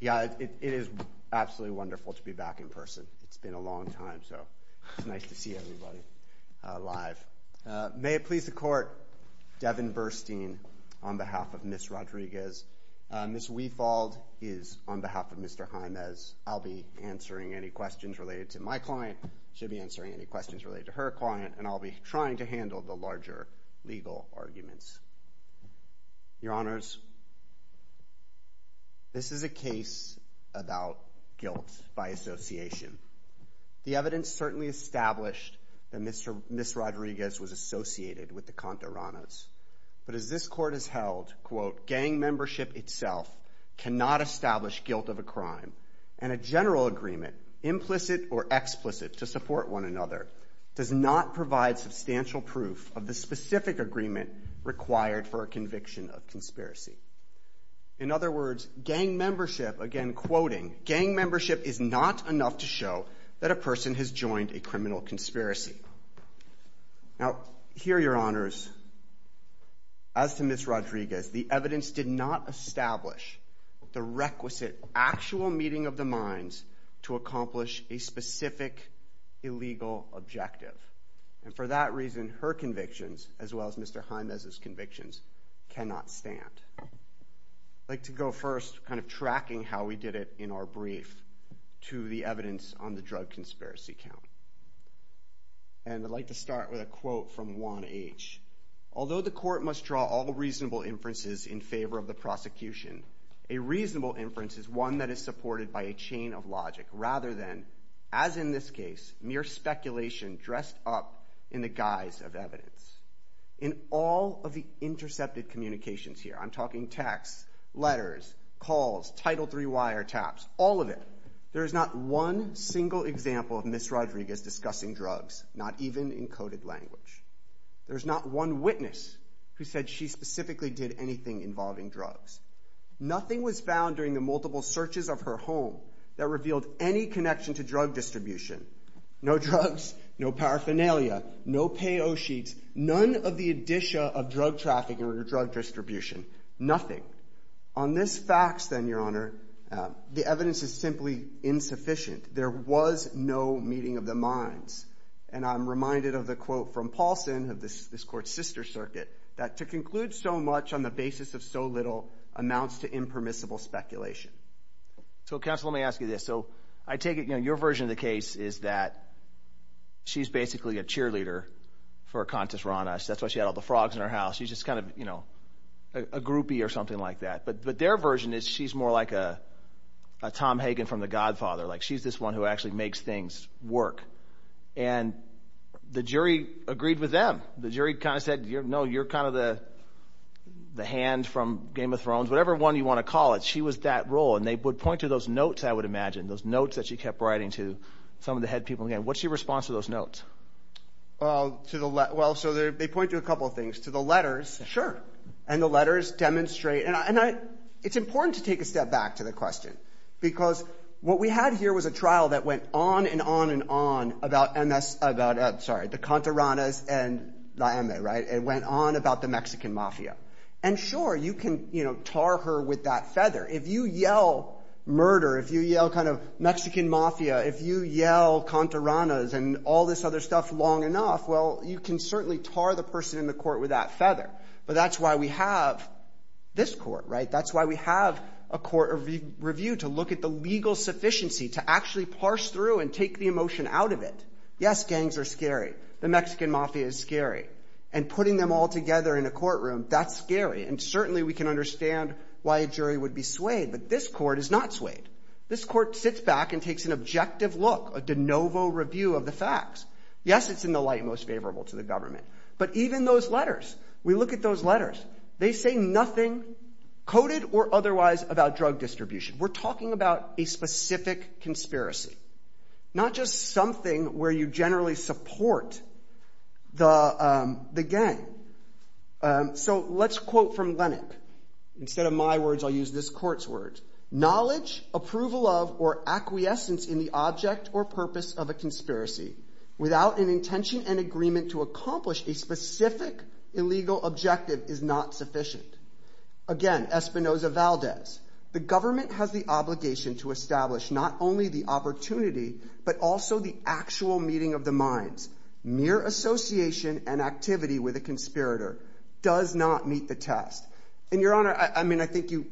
Yeah, it is absolutely wonderful to be back in person. It's been a long time, so it's nice to see everybody live. May it please the court, Devin Burstein on behalf of Ms. Rodriguez. Ms. Weifold is on behalf of Mr. Jaimes. I'll be answering any questions related to my client. She'll be answering any questions related to her client. And I'll be trying to handle the larger legal arguments. Your Honors, this is a case about guilt by association. The evidence certainly established that Ms. Rodriguez was associated with the Contaranos. But as this court has held, quote, gang membership itself cannot establish guilt of a crime. And a general agreement, implicit or explicit to support one another, does not provide substantial proof of the specific agreement required for a conviction of conspiracy. In other words, gang membership, again quoting, gang membership is not enough to show that a person has joined a criminal conspiracy. Now, here, Your Honors, as to Ms. Rodriguez, the evidence did not establish the requisite actual meeting of the minds to accomplish a specific illegal objective. And for that reason, her convictions, as well as Mr. Jaimes' convictions, cannot stand. I'd like to go first, kind of tracking how we did it in our brief, to the evidence on the drug conspiracy count. And I'd like to start with a quote from Juan H. Although the court must draw all reasonable inferences in favor of the prosecution, a reasonable inference is one that is supported by a chain of logic, rather than, as in this case, mere speculation dressed up in the guise of evidence. In all of the intercepted communications here, I'm talking texts, letters, calls, Title III wiretaps, all of it, there is not one single example of Ms. Rodriguez discussing drugs, not even in coded language. There's not one witness who said she specifically did anything involving drugs. Nothing was found during the multiple searches of her home that revealed any connection to drug distribution. No drugs, no paraphernalia, no payo sheets, none of the addition of drug trafficking or drug distribution, nothing. On this fax then, Your Honor, the evidence is simply insufficient. There was no meeting of the minds. And I'm reminded of the quote from Paulson of this court's sister circuit, that to conclude so much on the basis of so little amounts to impermissible speculation. So counsel, let me ask you this. So I take it, you know, your version of the case is that she's basically a cheerleader for a contest around us. That's why she had all the frogs in her house. She's just kind of, you know, a groupie or something like that. But their version is she's more like a Tom Hagen from the Godfather. Like she's this one who actually makes things work. And the jury agreed with them. The jury kind of said, no, you're kind of the hand from Game of Thrones, whatever one you want to call it. She was that role. And they would point to those notes, I would imagine, those notes that she kept writing to some of the head people again. What's your response to those notes? Well, to the, well, so they point to a couple of things, to the letters. Sure. And the letters demonstrate, and it's important to take a step back to the question, because what we had here was a trial that went on and on and on about MS, about, I'm sorry, the Contaranas and Laeme, right? It went on about the Mexican mafia. And sure, you can tar her with that feather. If you yell murder, if you yell kind of Mexican mafia, if you yell Contaranas and all this other stuff long enough, well, you can certainly tar the person in the court with that feather. But that's why we have this court, right? That's why we have a court review to look at the legal sufficiency, to actually parse through and take the emotion out of it. Yes, gangs are scary. The Mexican mafia is scary. And putting them all together in a courtroom, that's scary. And certainly we can understand why a jury would be swayed, but this court is not swayed. This court sits back and takes an objective look, a de novo review of the facts. Yes, it's in the light most favorable to the government. But even those letters, we look at those letters. They say nothing coded or otherwise about drug distribution. We're talking about a specific conspiracy, not just something where you generally support the gang. So let's quote from Lennock. Instead of my words, I'll use this court's words. Knowledge, approval of, or acquiescence in the object or purpose of a conspiracy without an intention and agreement to accomplish a specific illegal objective is not sufficient. Again, Espinoza-Valdez. The government has the obligation to establish not only the opportunity, but also the actual meeting of the minds, mere association and activity with a conspirator does not meet the test. And Your Honor, I mean, I think you,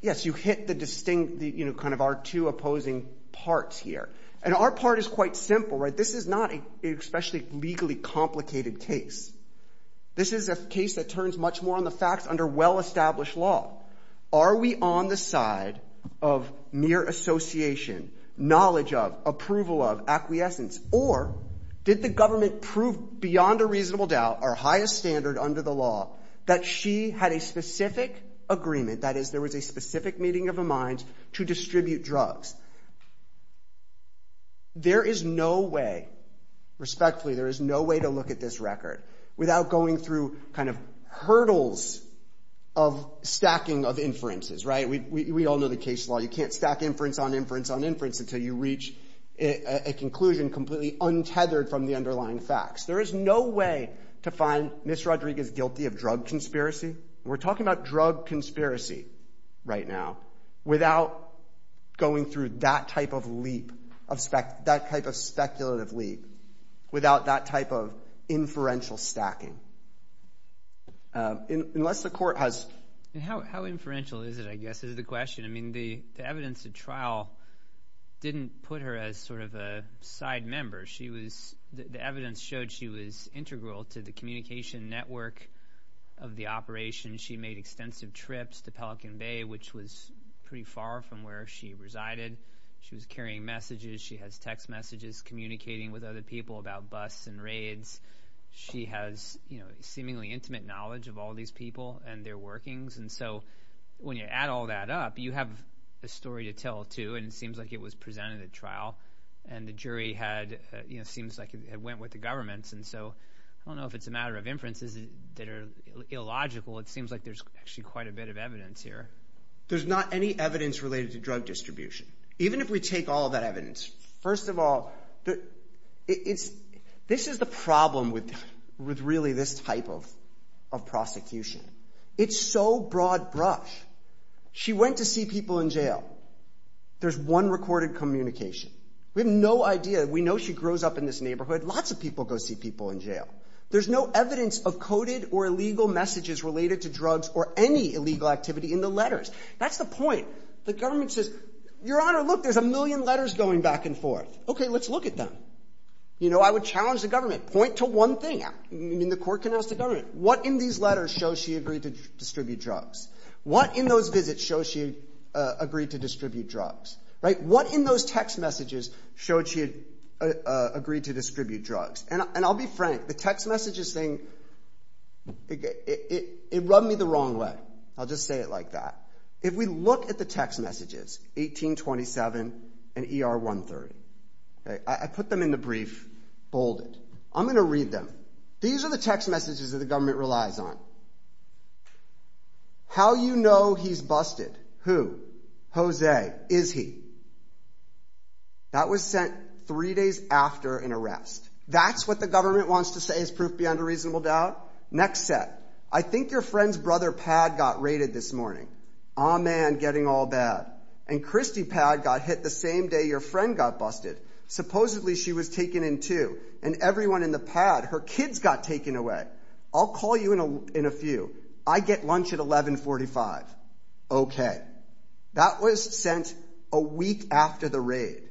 yes, you hit the distinct, kind of our two opposing parts here. And our part is quite simple, right? This is not an especially legally complicated case. This is a case that turns much more on the facts under well-established law. Are we on the side of mere association, knowledge of, approval of, acquiescence, or did the government prove beyond a reasonable doubt, our highest standard under the law, that she had a specific agreement, that is there was a specific meeting of the minds to distribute drugs? There is no way, respectfully, there is no way to look at this record without going through kind of hurdles of stacking of inferences, right? We all know the case law. You can't stack inference on inference on inference until you reach a conclusion completely untethered from the underlying facts. There is no way to find Ms. Rodriguez guilty of drug conspiracy. We're talking about drug conspiracy right now without going through that type of leap, that type of speculative leap, without that type of inferential stacking. Unless the court has... And how inferential is it, I guess, is the question. The evidence at trial didn't put her as sort of a side member. The evidence showed she was integral to the communication network of the operation. She made extensive trips to Pelican Bay, which was pretty far from where she resided. She was carrying messages. She has text messages, communicating with other people about bus and raids. She has seemingly intimate knowledge of all these people and their workings. And so when you add all that up, you have a story to tell too. And it seems like it was presented at trial and the jury had, seems like it went with the governments. And so I don't know if it's a matter of inferences that are illogical. It seems like there's actually quite a bit of evidence here. There's not any evidence related to drug distribution. Even if we take all of that evidence, first of all, this is the problem with really this type of prosecution. It's so broad brush. She went to see people in jail. There's one recorded communication. We have no idea. We know she grows up in this neighborhood. Lots of people go see people in jail. There's no evidence of coded or illegal messages related to drugs or any illegal activity in the letters. That's the point. The government says, your honor, look, there's a million letters going back and forth. Okay, let's look at them. You know, I would challenge the government, point to one thing. I mean, the court can ask the government, what in these letters shows she agreed to distribute drugs? What in those visits shows she agreed to distribute drugs? Right, what in those text messages showed she agreed to distribute drugs? And I'll be frank, the text messages thing, it rubbed me the wrong way. I'll just say it like that. If we look at the text messages, 1827 and ER 130, okay, I put them in the brief, bolded. I'm gonna read them. These are the text messages that the government relies on. How you know he's busted? Who? Jose, is he? That was sent three days after an arrest. That's what the government wants to say is proof beyond a reasonable doubt. Next set. I think your friend's brother, Pad, got raided this morning. Ah man, getting all bad. And Christy Pad got hit the same day your friend got busted. Supposedly she was taken in too. And everyone in the pad, her kids got taken away. I'll call you in a few. I get lunch at 1145. Okay. That was sent a week after the raid.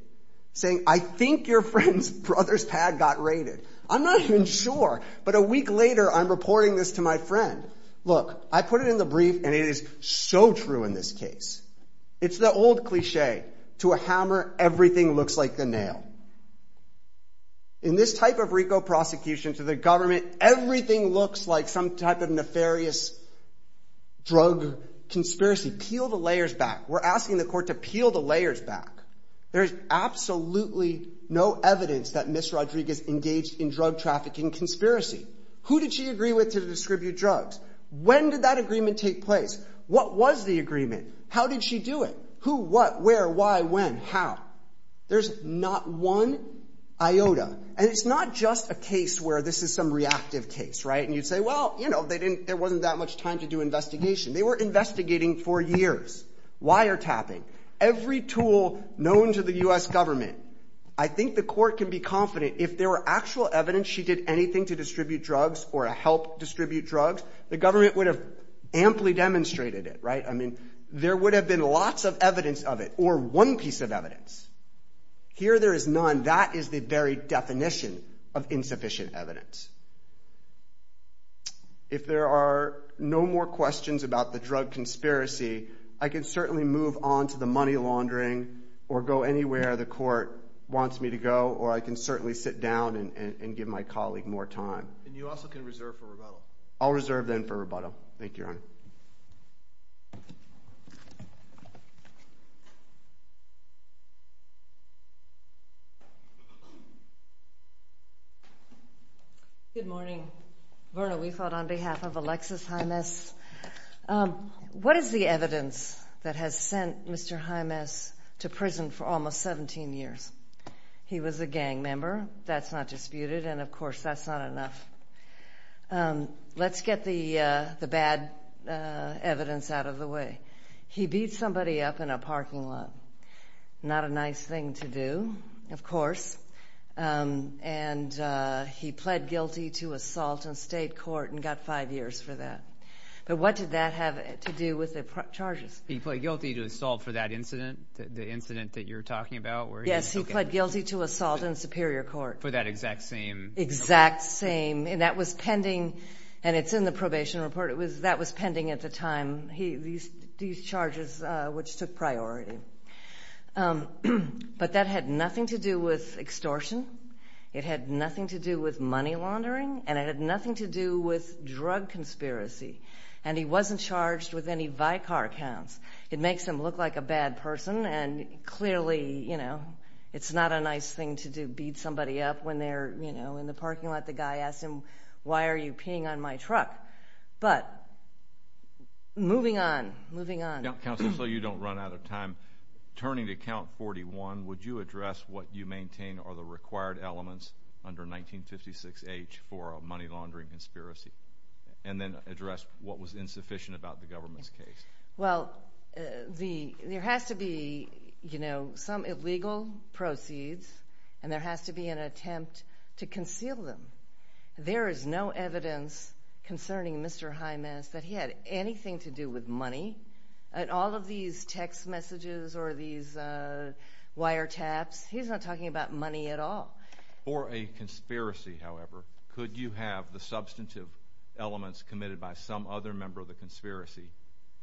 Saying I think your friend's brother's Pad got raided. I'm not even sure. But a week later, I'm reporting this to my friend. Look, I put it in the brief and it is so true in this case. It's the old cliche. To a hammer, everything looks like the nail. In this type of RICO prosecution to the government, everything looks like some type of nefarious drug conspiracy. Peel the layers back. We're asking the court to peel the layers back. There's absolutely no evidence that Ms. Rodriguez engaged in drug trafficking conspiracy. Who did she agree with to distribute drugs? When did that agreement take place? What was the agreement? How did she do it? Who, what, where, why, when, how? There's not one iota. And it's not just a case where this is some reactive case, right? And you'd say, well, you know, they didn't, there wasn't that much time to do investigation. They were investigating for years. Wiretapping. Every tool known to the U.S. government. I think the court can be confident if there were actual evidence she did anything to distribute drugs or help distribute drugs, the government would have amply demonstrated it, right? I mean, there would have been lots of evidence of it or one piece of evidence. Here there is none. That is the very definition of insufficient evidence. If there are no more questions about the drug conspiracy, I can certainly move on to the money laundering or go anywhere the court wants me to go, or I can certainly sit down and give my colleague more time. And you also can reserve for rebuttal. Thank you, Your Honor. Good morning. Verna, we fought on behalf of Alexis Jaimes. What is the evidence that has sent Mr. Jaimes to prison for almost 17 years? He was a gang member. That's not disputed. And of course, that's not enough. Let's get the bad evidence out of the way. He beat somebody up in a parking lot. Not a nice thing to do, of course. And he pled guilty to assault in state court and got five years for that. But what did that have to do with the charges? He pled guilty to assault for that incident, the incident that you're talking about? Yes, he pled guilty to assault in Superior Court. For that exact same? Exact same. And that was pending, and it's in the probation report. That was pending at the time, these charges, which took priority. But that had nothing to do with extortion. It had nothing to do with money laundering, and it had nothing to do with drug conspiracy. And he wasn't charged with any Vicar counts. It makes him look like a bad person, and clearly, you know, it's not a nice thing to do, beat somebody up when they're, you know, in the parking lot. The guy asked him, why are you peeing on my truck? But moving on, moving on. Counsel, so you don't run out of time, turning to count 41, would you address what you maintain are the required elements under 1956H for a money laundering conspiracy? And then address what was insufficient about the government's case. Well, there has to be, you know, some illegal proceeds, and there has to be an attempt to conceal them. There is no evidence concerning Mr. Jimenez that he had anything to do with money. And all of these text messages or these wiretaps, he's not talking about money at all. For a conspiracy, however, could you have the substantive elements committed by some other member of the conspiracy,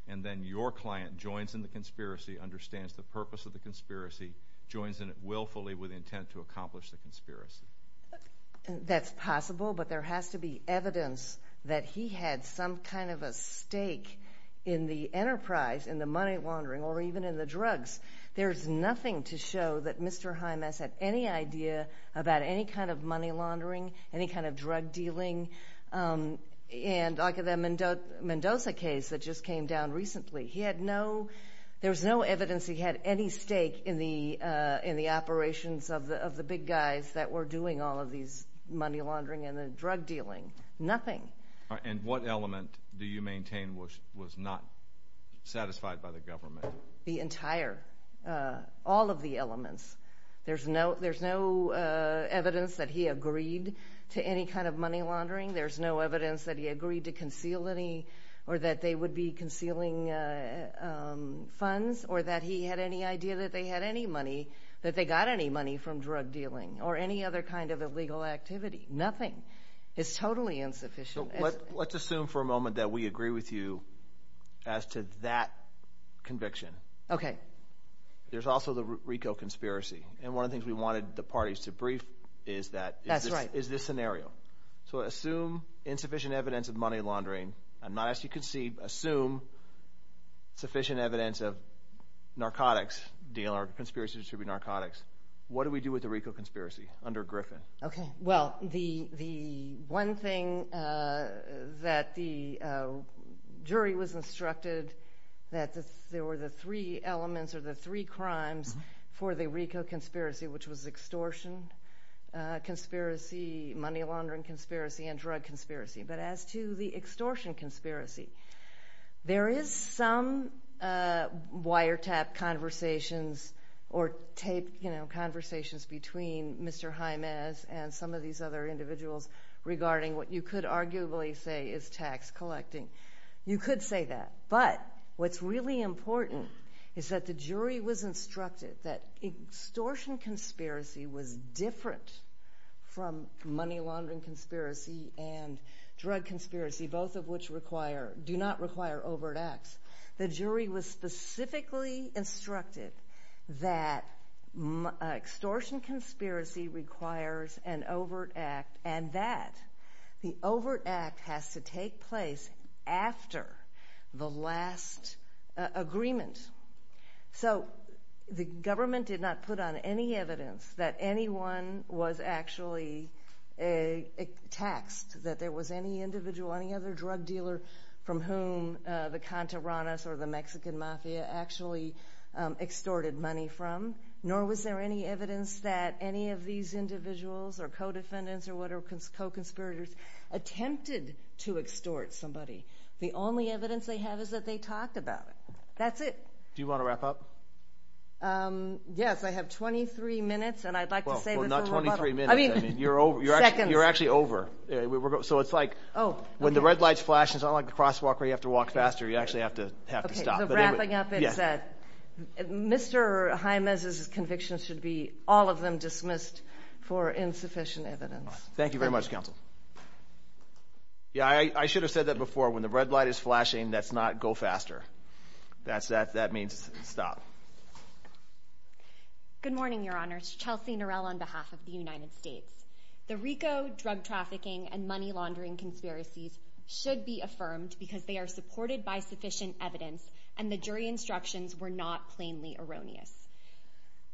and then your client joins in the conspiracy, understands the purpose of the conspiracy, joins in it willfully with intent to accomplish the conspiracy? That's possible, but there has to be evidence that he had some kind of a stake in the enterprise, in the money laundering, or even in the drugs. There's nothing to show that Mr. Jimenez had any idea about any kind of money laundering, any kind of drug dealing. And like the Mendoza case that just came down recently, he had no, there was no evidence he had any stake in the operations of the big guys that were doing all of these money laundering and the drug dealing, nothing. And what element do you maintain was not satisfied by the government? The entire, all of the elements. There's no evidence that he agreed to any kind of money laundering. There's no evidence that he agreed to conceal any, or that they would be concealing funds, or that he had any idea that they had any money, that they got any money from drug dealing, or any other kind of illegal activity, nothing. It's totally insufficient. Let's assume for a moment that we agree with you as to that conviction. Okay. There's also the RICO conspiracy, and one of the things we wanted the parties to brief is that, is this scenario. So assume insufficient evidence of money laundering, and not as you can see, assume sufficient evidence of narcotics, conspiracy to distribute narcotics. What do we do with the RICO conspiracy under Griffin? Okay, well, the one thing that the jury was instructed that there were the three elements, or the three crimes for the RICO conspiracy, which was extortion conspiracy, money laundering conspiracy, and drug conspiracy. But as to the extortion conspiracy, there is some wiretap conversations, or tape conversations between Mr. Jaimez and some of these other individuals regarding what you could arguably say is tax collecting. You could say that. But what's really important is that the jury was instructed that extortion conspiracy was different from money laundering conspiracy and drug conspiracy, both of which do not require overt acts. The jury was specifically instructed that extortion conspiracy requires an overt act, and that the overt act has to take place after the last agreement. So the government did not put on any evidence that anyone was actually taxed, that there was any individual, any other drug dealer, from whom the Contaranas or the Mexican Mafia actually extorted money from, nor was there any evidence that any of these individuals or co-defendants or whatever, co-conspirators, attempted to extort somebody. The only evidence they have is that they talked about it. That's it. Do you want to wrap up? Yes, I have 23 minutes, and I'd like to say... Well, not 23 minutes. I mean, seconds. You're actually over. So it's like when the red light's flashing, it's not like the crosswalk where you have to walk faster. You actually have to stop. Okay, so wrapping up, it's that Mr. Jiménez's conviction should be all of them dismissed for insufficient evidence. Thank you very much, Counsel. Yeah, I should have said that before. When the red light is flashing, that's not go faster. That means stop. Good morning, Your Honors. Chelsea Norell on behalf of the United States. The RICO drug trafficking and money laundering conspiracies should be affirmed because they are supported by sufficient evidence and the jury instructions were not plainly erroneous.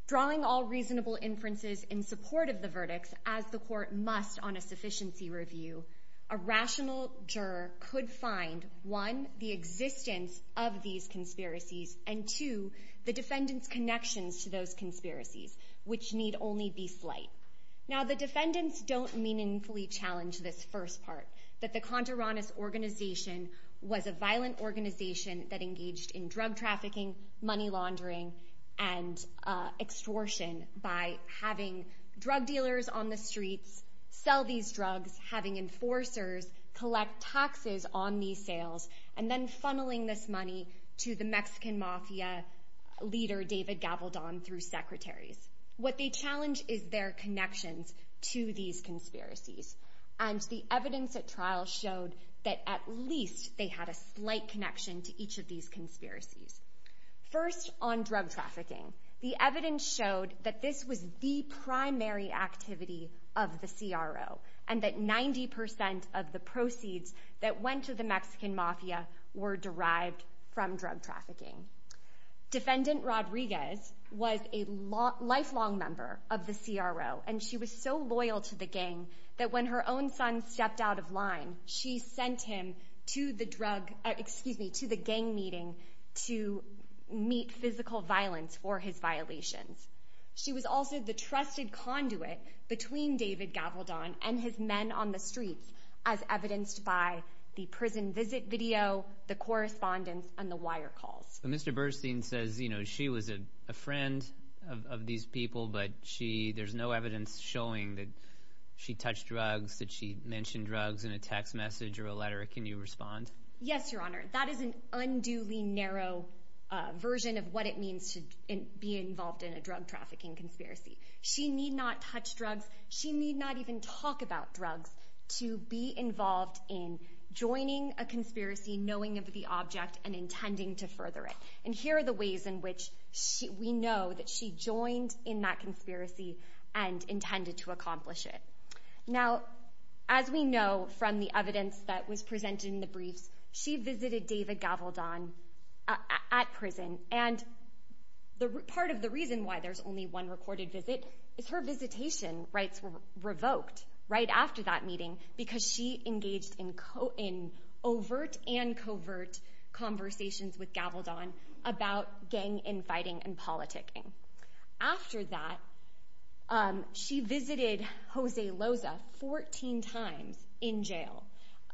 Drawing all reasonable inferences in support of the verdicts, as the court must on a sufficiency review, a rational juror could find, one, the existence of these conspiracies, and two, the defendant's connections to those conspiracies, which need only be slight. Now, the defendants don't meaningfully challenge this first part, that the Contreras organization was a violent organization that engaged in drug trafficking, money laundering, and extortion by having drug dealers on the streets sell these drugs, having enforcers collect taxes on these sales, and then funneling this money to the Mexican mafia leader, David Gabaldon, through secretaries. What they challenge is their connections to these conspiracies, and the evidence at trial showed that at least they had a slight connection to each of these conspiracies. First, on drug trafficking, the evidence showed that this was the primary activity of the CRO, and that 90% of the proceeds that went to the Mexican mafia were derived from drug trafficking. Defendant Rodriguez was a lifelong member of the CRO, and she was so loyal to the gang that when her own son stepped out of line, she sent him to the gang meeting to meet physical violence for his violations. She was also the trusted conduit between David Gabaldon and his men on the streets, as evidenced by the prison visit video, the correspondence, and the wire calls. Mr. Burstein says she was a friend of these people, but there's no evidence showing that she touched drugs, that she mentioned drugs in a text message or a letter. Can you respond? Yes, Your Honor. That is an unduly narrow version of what it means to be involved in a drug trafficking conspiracy. She need not touch drugs. She need not even talk about drugs. to be involved in joining a conspiracy, knowing of the object, and intending to further it. And here are the ways in which we know that she joined in that conspiracy and intended to accomplish it. Now, as we know from the evidence that was presented in the briefs, she visited David Gabaldon at prison, and part of the reason why there's only one recorded visit is her visitation rights were revoked right after that meeting, because she engaged in overt and covert conversations with Gabaldon about gang infighting and politicking. After that, she visited Jose Loza 14 times in jail.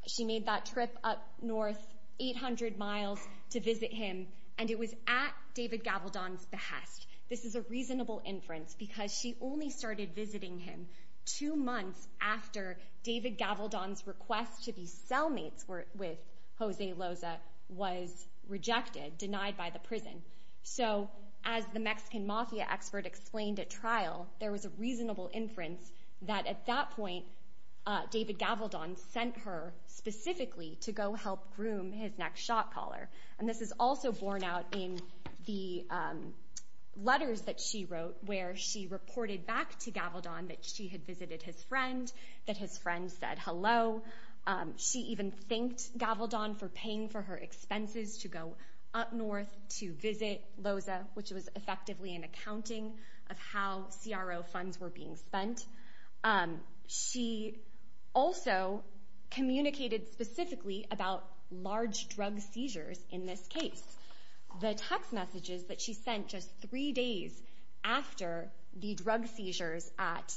She made that trip up north 800 miles to visit him, and it was at David Gabaldon's behest. This is a reasonable inference, because she only started visiting him two months after David Gabaldon's request to be cellmates with Jose Loza was rejected, denied by the prison. So as the Mexican mafia expert explained at trial, there was a reasonable inference that at that point, David Gabaldon sent her specifically to go help groom his next shot caller. And this is also borne out in the letters that she wrote where she reported back to Gabaldon that she had visited his friend, that his friend said hello. She even thanked Gabaldon for paying for her expenses to go up north to visit Loza, which was effectively an accounting of how CRO funds were being spent. She also communicated specifically about large drug seizures in this case. The text messages that she sent just three days after the drug seizures at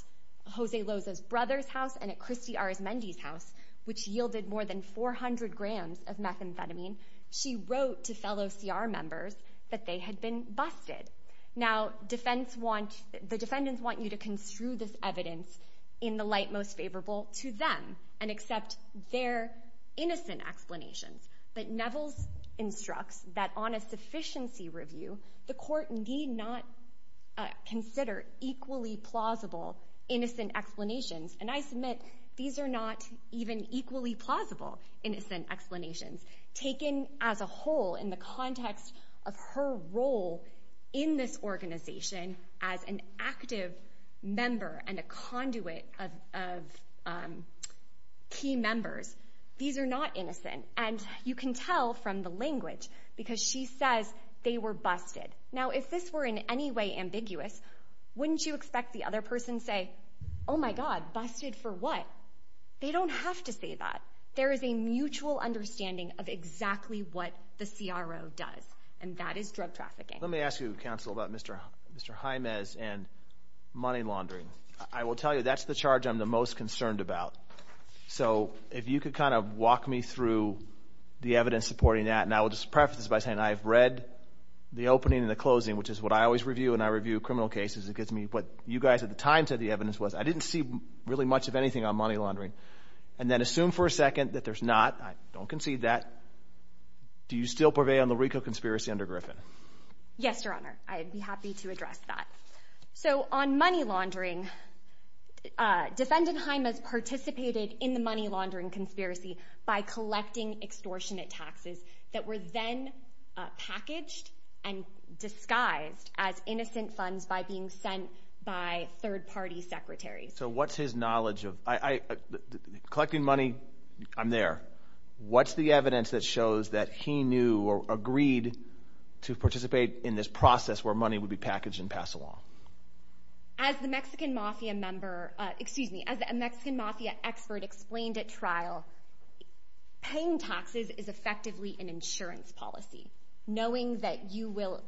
Jose Loza's brother's house and at Christy Arizmendi's house, which yielded more than 400 grams of methamphetamine, she wrote to fellow CR members that they had been busted. Now, the defendants want you to construe this evidence in the light most favorable to them and accept their innocent explanations. But Nevels instructs that on a sufficiency review, the court need not consider equally plausible innocent explanations. And I submit these are not even equally plausible innocent explanations. Taken as a whole in the context of her role in this organization as an active member and a conduit of key members, these are not innocent. And you can tell from the language, because she says they were busted. Now, if this were in any way ambiguous, wouldn't you expect the other person to say, oh, my God, busted for what? They don't have to say that. There is a mutual understanding of exactly what the CRO does, and that is drug trafficking. Let me ask you, Counsel, about Mr. Jaimes and money laundering. I will tell you that's the charge I'm the most concerned about. So if you could kind of walk me through the evidence supporting that, and I will just preface this by saying I've read the opening and the closing, which is what I always review when I review criminal cases. It gives me what you guys at the time said the evidence was. I didn't see really much of anything on money laundering. And then assume for a second that there's not. I don't concede that. Do you still purvey on the Rico conspiracy under Griffin? Yes, Your Honor. I'd be happy to address that. So on money laundering, defendant Jaimes participated in the money laundering conspiracy by collecting extortionate taxes that were then packaged and disguised as innocent funds by being sent by third-party secretaries. So what's his knowledge of collecting money? I'm there. What's the evidence that shows that he knew or agreed to participate in this process where money would be packaged and passed along? As the Mexican mafia member, excuse me, as a Mexican mafia expert explained at trial, paying taxes is effectively an insurance policy, knowing that you will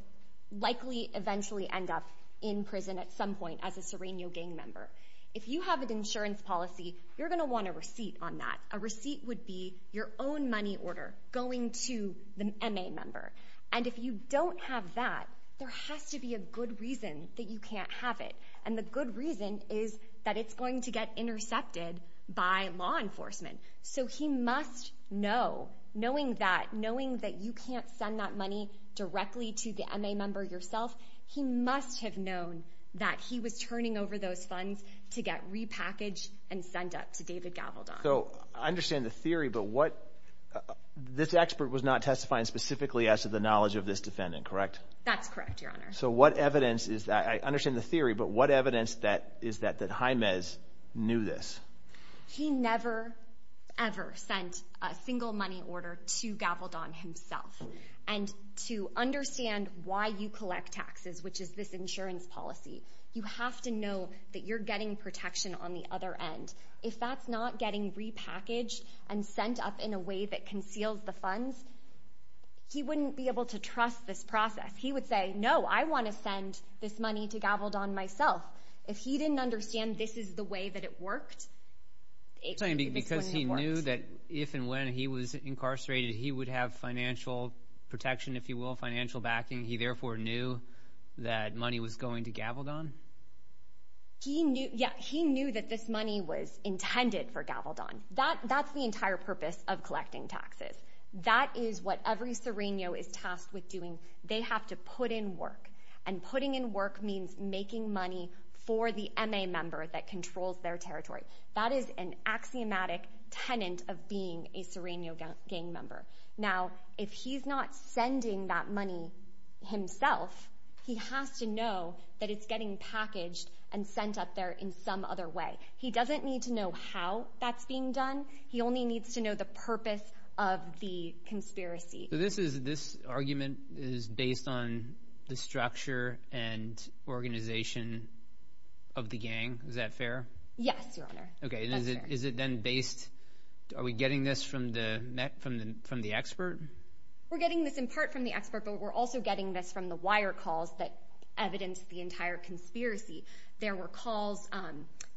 likely eventually end up in prison at some point as a Sereno gang member. If you have an insurance policy, you're going to want a receipt on that. A receipt would be your own money order going to the MA member. And if you don't have that, there has to be a good reason that you can't have it. And the good reason is that it's going to get intercepted by law enforcement. So he must know, knowing that, knowing that you can't send that money directly to the MA member yourself, he must have known that he was turning over those funds to get repackaged and sent up to David Gavaldon. So I understand the theory, but what... This expert was not testifying specifically as to the knowledge of this defendant, correct? That's correct, Your Honor. So what evidence is that... I understand the theory, but what evidence is that Jaimez knew this? He never, ever sent a single money order to Gavaldon himself. And to understand why you collect taxes, which is this insurance policy, you have to know that you're getting protection on the other end. If that's not getting repackaged and sent up in a way that conceals the funds, he wouldn't be able to trust this process. He would say, no, I want to send this money to Gavaldon myself. If he didn't understand this is the way that it worked... Because he knew that if and when he was incarcerated, he would have financial protection, if you will, financial backing. He therefore knew that money was going to Gavaldon? Yeah, he knew that this money was intended for Gavaldon. That's the entire purpose of collecting taxes. That is what every Sereno is tasked with doing. They have to put in work, and putting in work means making money for the MA member that controls their territory. That is an axiomatic tenant of being a Sereno gang member. Now, if he's not sending that money himself, he has to know that it's getting packaged and sent up there in some other way. He doesn't need to know how that's being done. He only needs to know the purpose of the conspiracy. So this argument is based on the structure and organization of the gang? Is that fair? Yes, Your Honor. Okay, is it then based... Are we getting this from the expert? We're getting this in part from the expert, but we're also getting this from the wire calls that evidence the entire conspiracy. There were calls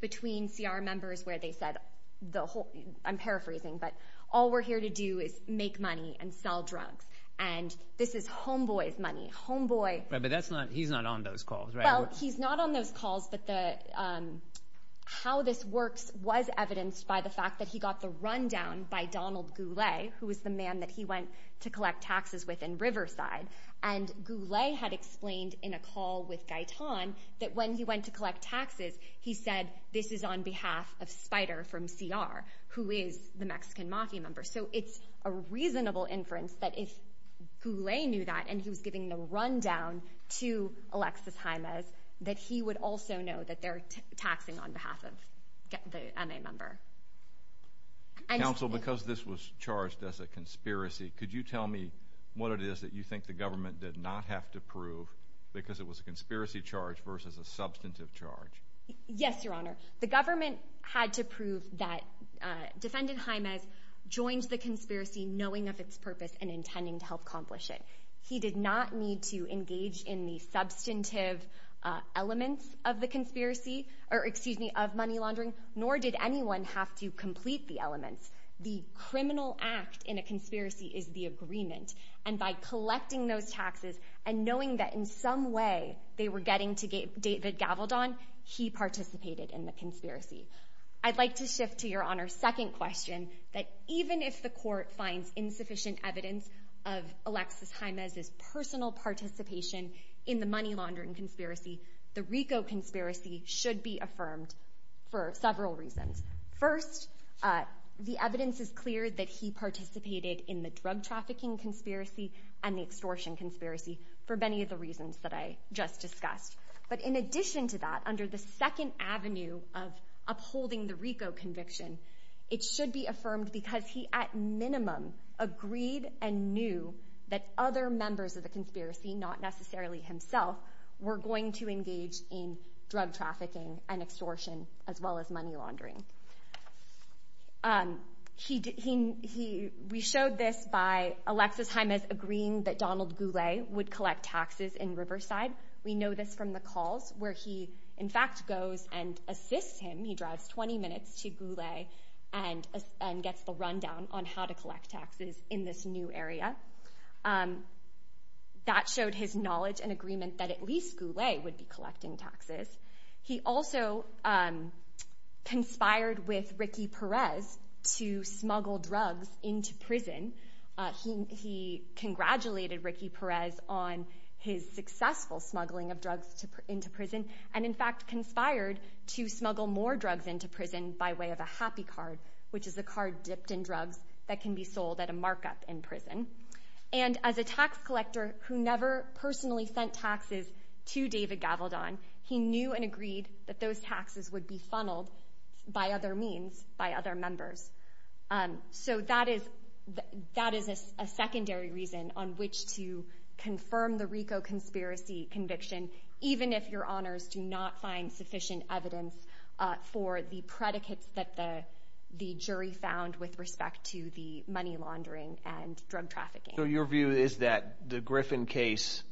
between CR members where they said the whole... I'm paraphrasing, but all we're here to do is make money and sell drugs. And this is Homeboy's money. Homeboy... Right, but he's not on those calls, right? Well, he's not on those calls, but how this works was evidenced by the fact that he got the rundown by Donald Goulet, who was the man that he went to collect taxes with in Riverside. And Goulet had explained in a call with Gaitan that when he went to collect taxes, he said this is on behalf of Spider from CR, who is the Mexican mafia member. So it's a reasonable inference that if Goulet knew that and he was giving the rundown to Alexis Jaimes, that he would also know that they're taxing on behalf of the MA member. Counsel, because this was charged as a conspiracy, could you tell me what it is that you think the government did not have to prove because it was a conspiracy charge versus a substantive charge? Yes, Your Honor. The government had to prove that Defendant Jaimes joined the conspiracy knowing of its purpose and intending to help accomplish it. He did not need to engage in the substantive elements of the conspiracy, or excuse me, of money laundering, nor did anyone have to complete the elements. The criminal act in a conspiracy is the agreement. And by collecting those taxes and knowing that in some way they were getting to David Gavaldon, he participated in the conspiracy. I'd like to shift to Your Honor's second question, that even if the court finds insufficient evidence of Alexis Jaimes' personal participation in the money laundering conspiracy, the RICO conspiracy should be affirmed for several reasons. First, the evidence is clear that he participated in the drug trafficking conspiracy and the extortion conspiracy for many of the reasons that I just discussed. But in addition to that, under the second avenue of upholding the RICO conviction, it should be affirmed because he at minimum agreed and knew that other members of the conspiracy, not necessarily himself, were going to engage in drug trafficking and extortion as well as money laundering. We showed this by Alexis Jaimes agreeing that Donald Goulet would collect taxes in Riverside. We know this from the calls where he in fact goes and assists him. He drives 20 minutes to Goulet and gets the rundown on how to collect taxes in this new area. That showed his knowledge and agreement that at least Goulet would be collecting taxes. He also conspired with Ricky Perez to smuggle drugs into prison. He congratulated Ricky Perez on his successful smuggling of drugs into prison and in fact conspired to smuggle more drugs into prison by way of a happy card, which is a card dipped in drugs that can be sold at a markup in prison. And as a tax collector who never personally sent taxes to David Gavaldon, he knew and agreed that those taxes would be funneled by other means, by other members. So that is a secondary reason on which to confirm the RICO conspiracy conviction, even if your honors do not find sufficient evidence for the predicates that the jury found with respect to the money laundering and drug trafficking. So your view is that the Griffin case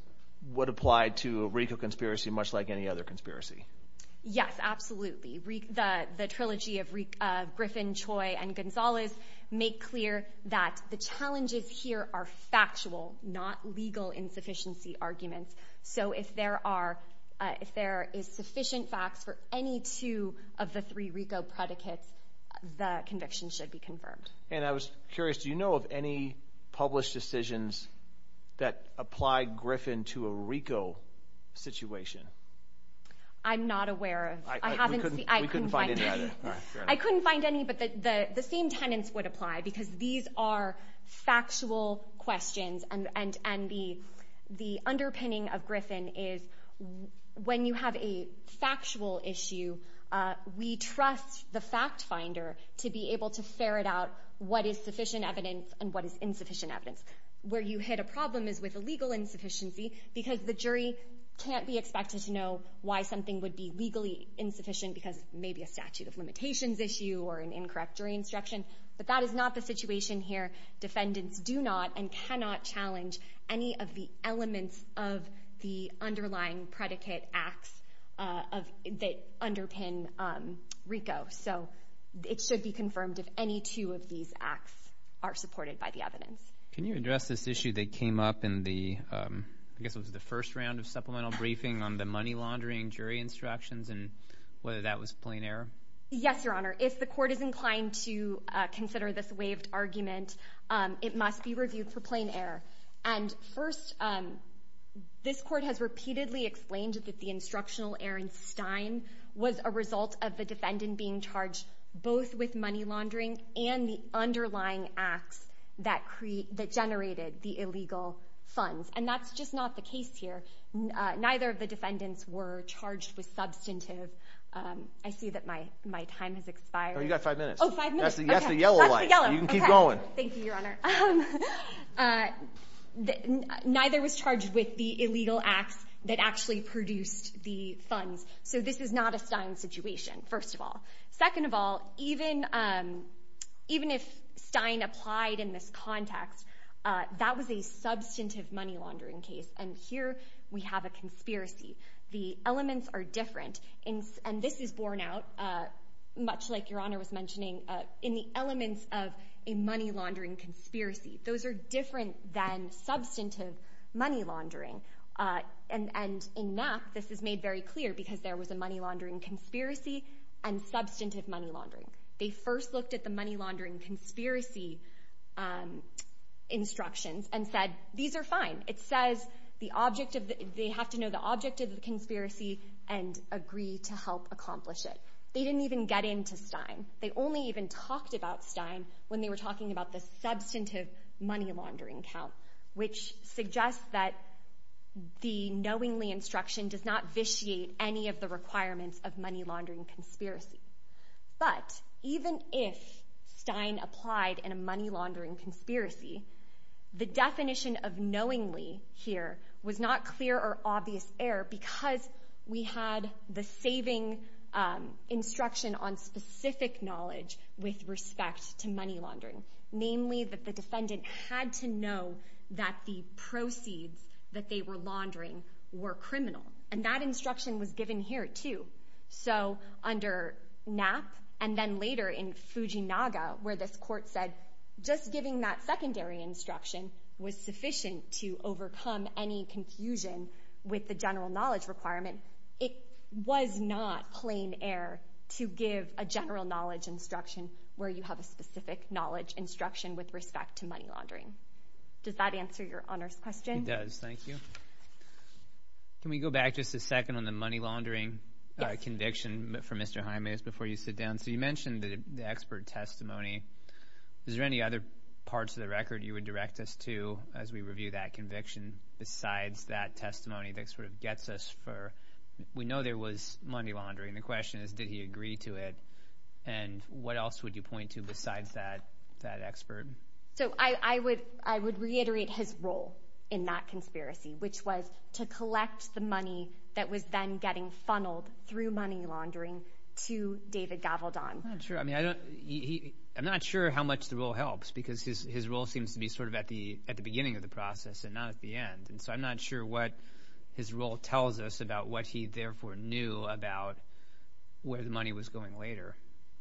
would apply to a RICO conspiracy much like any other conspiracy? Yes, absolutely. The trilogy of Griffin, Choi, and Gonzalez make clear that the challenges here are factual, not legal insufficiency arguments. So if there is sufficient facts for any two of the three RICO predicates, the conviction should be confirmed. And I was curious, do you know of any published decisions that apply Griffin to a RICO situation? I'm not aware of. We couldn't find any either. I couldn't find any, but the same tenets would apply, because these are factual questions, and the underpinning of Griffin is when you have a factual issue, we trust the fact finder to be able to ferret out what is sufficient evidence and what is insufficient evidence. Where you hit a problem is with a legal insufficiency, because the jury can't be expected to know why something would be legally insufficient, because it may be a statute of limitations issue or an incorrect jury instruction. But that is not the situation here. Defendants do not and cannot challenge any of the elements of the underlying predicate acts that underpin RICO. So it should be confirmed if any two of these acts are supported by the evidence. Can you address this issue that came up in the... I guess it was the first round of supplemental briefing on the money laundering jury instructions and whether that was plain error? Yes, Your Honor. If the court is inclined to consider this waived argument, it must be reviewed for plain error. And first, this court has repeatedly explained that the instructional error in Stein was a result of the defendant being charged both with money laundering and the underlying acts that generated the illegal funds. And that's just not the case here. Neither of the defendants were charged with substantive... I see that my time has expired. Oh, you've got five minutes. Oh, five minutes. That's the yellow light. You can keep going. Thank you, Your Honor. Neither was charged with the illegal acts that actually produced the funds. So this is not a Stein situation, first of all. Second of all, even if Stein applied in this context, that was a substantive money laundering case. And here we have a conspiracy. The elements are different. And this is borne out, much like Your Honor was mentioning, in the elements of a money laundering conspiracy. Those are different than substantive money laundering. And in that, this is made very clear because there was a money laundering conspiracy and substantive money laundering. They first looked at the money laundering conspiracy instructions and said, these are fine. It says they have to know the object of the conspiracy and agree to help accomplish it. They didn't even get into Stein. They only even talked about Stein when they were talking about the substantive money laundering count, which suggests that the knowingly instruction does not vitiate any of the requirements of money laundering conspiracy. But even if Stein applied in a money laundering conspiracy, the definition of knowingly here was not clear or obvious error because we had the saving instruction on specific knowledge with respect to money laundering, namely that the defendant had to know that the proceeds that they were laundering were criminal. And that instruction was given here, too. So under Knapp and then later in Fujinaga, where this court said just giving that secondary instruction was sufficient to overcome any confusion with the general knowledge requirement, it was not plain error to give a general knowledge instruction where you have a specific knowledge instruction with respect to money laundering. Does that answer your honors question? It does. Thank you. Can we go back just a second on the money laundering conviction for Mr. Jaime before you sit down? So you mentioned the expert testimony. Is there any other parts of the record you would direct us to as we review that conviction besides that testimony that sort of gets us for? We know there was money laundering. The question is did he agree to it, and what else would you point to besides that expert? So I would reiterate his role in that conspiracy, which was to collect the money that was then getting funneled through money laundering to David Gavaldon. I'm not sure how much the role helps because his role seems to be sort of at the beginning of the process and not at the end. So I'm not sure what his role tells us about what he therefore knew about where the money was going later.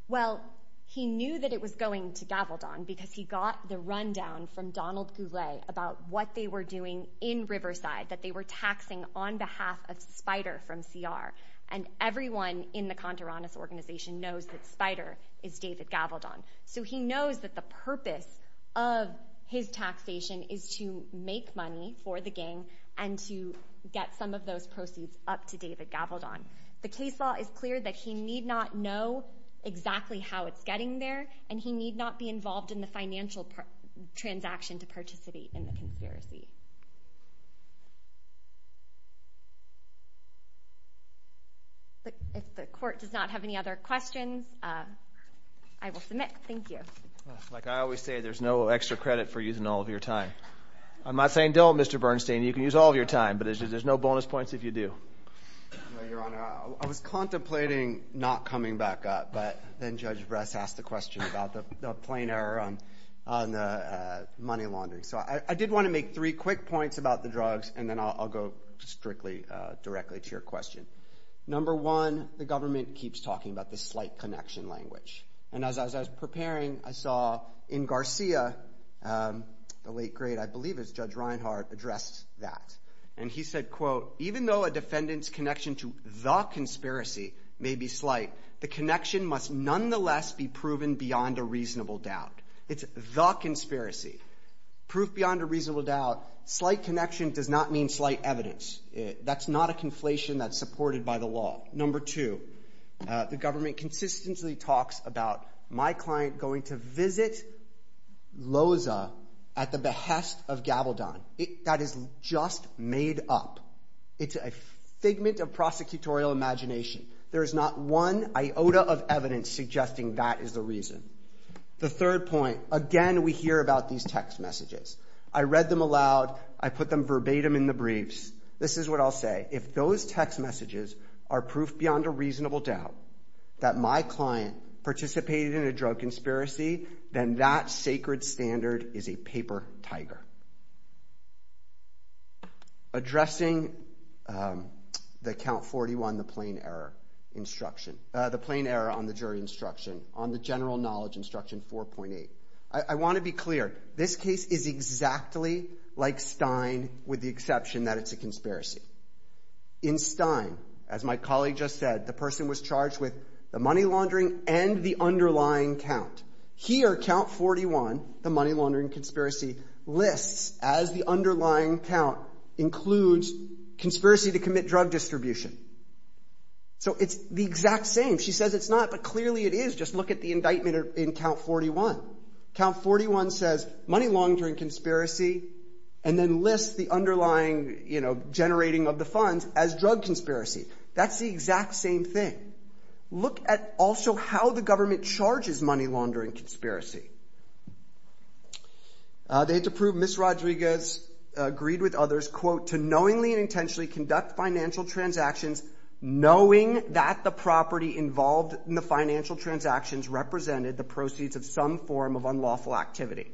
Well, he knew that it was going to Gavaldon because he got the rundown from Donald Goulet about what they were doing in Riverside, that they were taxing on behalf of Spider from CR. And everyone in the Contoranis organization knows that Spider is David Gavaldon. So he knows that the purpose of his taxation is to make money for the gang and to get some of those proceeds up to David Gavaldon. The case law is clear that he need not know exactly how it's getting there, and he need not be involved in the financial transaction to participate in the conspiracy. If the court does not have any other questions, I will submit. Thank you. Like I always say, there's no extra credit for using all of your time. I'm not saying don't, Mr. Bernstein. You can use all of your time, but there's no bonus points if you do. Your Honor, I was contemplating not coming back up, but then Judge Bress asked the question about the plain error on the money laundering. So I did want to make three quick points about the drugs, and then I'll go strictly directly to your question. Number one, the government keeps talking about the slight connection language. And as I was preparing, I saw in Garcia, the late great, I believe it's Judge Reinhart, addressed that. And he said, quote, The connection must nonetheless be proven beyond a reasonable doubt. It's the conspiracy. Proof beyond a reasonable doubt. Slight connection does not mean slight evidence. That's not a conflation that's supported by the law. Number two, the government consistently talks about my client going to visit Loza at the behest of Gabaldon. That is just made up. It's a figment of prosecutorial imagination. There is not one iota of evidence suggesting that is the reason. The third point, again, we hear about these text messages. I read them aloud. I put them verbatim in the briefs. This is what I'll say. If those text messages are proof beyond a reasonable doubt that my client participated in a drug conspiracy, then that sacred standard is a paper tiger. Addressing the Count 41, the plain error instruction, the plain error on the jury instruction, on the general knowledge instruction 4.8, I want to be clear. This case is exactly like Stein with the exception that it's a conspiracy. In Stein, as my colleague just said, the person was charged with the money laundering and the underlying count. Here, Count 41, the money laundering conspiracy, lists as the underlying count includes conspiracy to commit drug distribution. So it's the exact same. She says it's not, but clearly it is. Just look at the indictment in Count 41. Count 41 says money laundering conspiracy and then lists the underlying generating of the funds as drug conspiracy. That's the exact same thing. Look at also how the government charges money laundering conspiracy. They had to prove Ms. Rodriguez agreed with others, quote, to knowingly and intentionally conduct financial transactions, knowing that the property involved in the financial transactions represented the proceeds of some form of unlawful activity.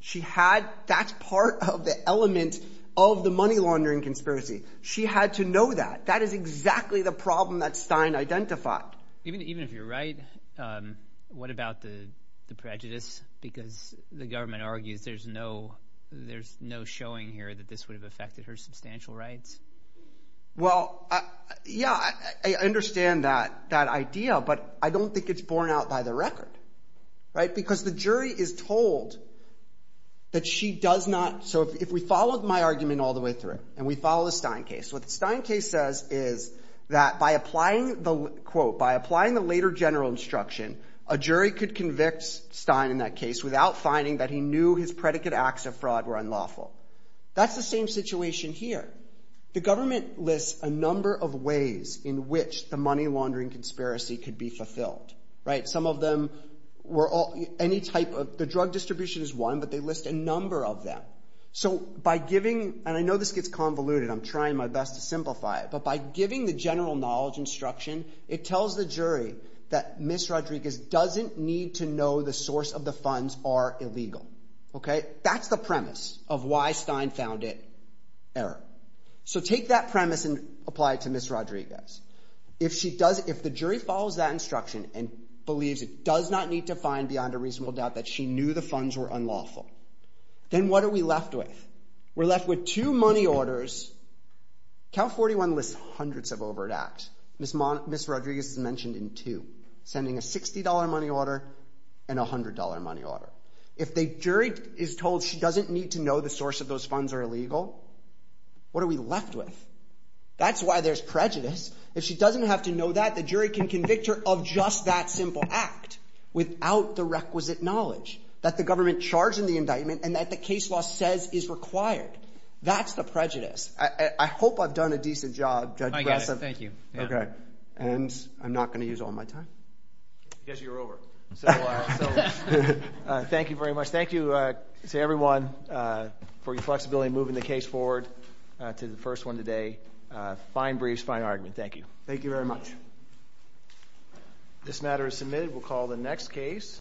She had that part of the element of the money laundering conspiracy. She had to know that. That is exactly the problem that Stein identified. Even if you're right, what about the prejudice? Because the government argues there's no showing here that this would have affected her substantial rights. Well, yeah, I understand that idea, but I don't think it's borne out by the record because the jury is told that she does not. So if we follow my argument all the way through and we follow the Stein case, what the Stein case says is that by applying the, quote, by applying the later general instruction, a jury could convict Stein in that case without finding that he knew his predicate acts of fraud were unlawful. That's the same situation here. The government lists a number of ways in which the money laundering conspiracy could be fulfilled. Some of them were any type of – the drug distribution is one, but they list a number of them. So by giving – and I know this gets convoluted. I'm trying my best to simplify it, but by giving the general knowledge instruction, it tells the jury that Ms. Rodriguez doesn't need to know the source of the funds are illegal. That's the premise of why Stein found it error. So take that premise and apply it to Ms. Rodriguez. If the jury follows that instruction and believes it does not need to find beyond a reasonable doubt that she knew the funds were unlawful, then what are we left with? We're left with two money orders. Cal 41 lists hundreds of overt acts. Ms. Rodriguez is mentioned in two, sending a $60 money order and a $100 money order. If the jury is told she doesn't need to know the source of those funds are illegal, what are we left with? That's why there's prejudice. If she doesn't have to know that, the jury can convict her of just that simple act without the requisite knowledge that the government charged in the indictment and that the case law says is required. That's the prejudice. I hope I've done a decent job. I guess. Thank you. And I'm not going to use all my time. Because you're over. Thank you very much. Thank you to everyone for your flexibility in moving the case forward to the first one today. Fine briefs, fine argument. Thank you. Thank you very much. This matter is submitted. We'll call the next case.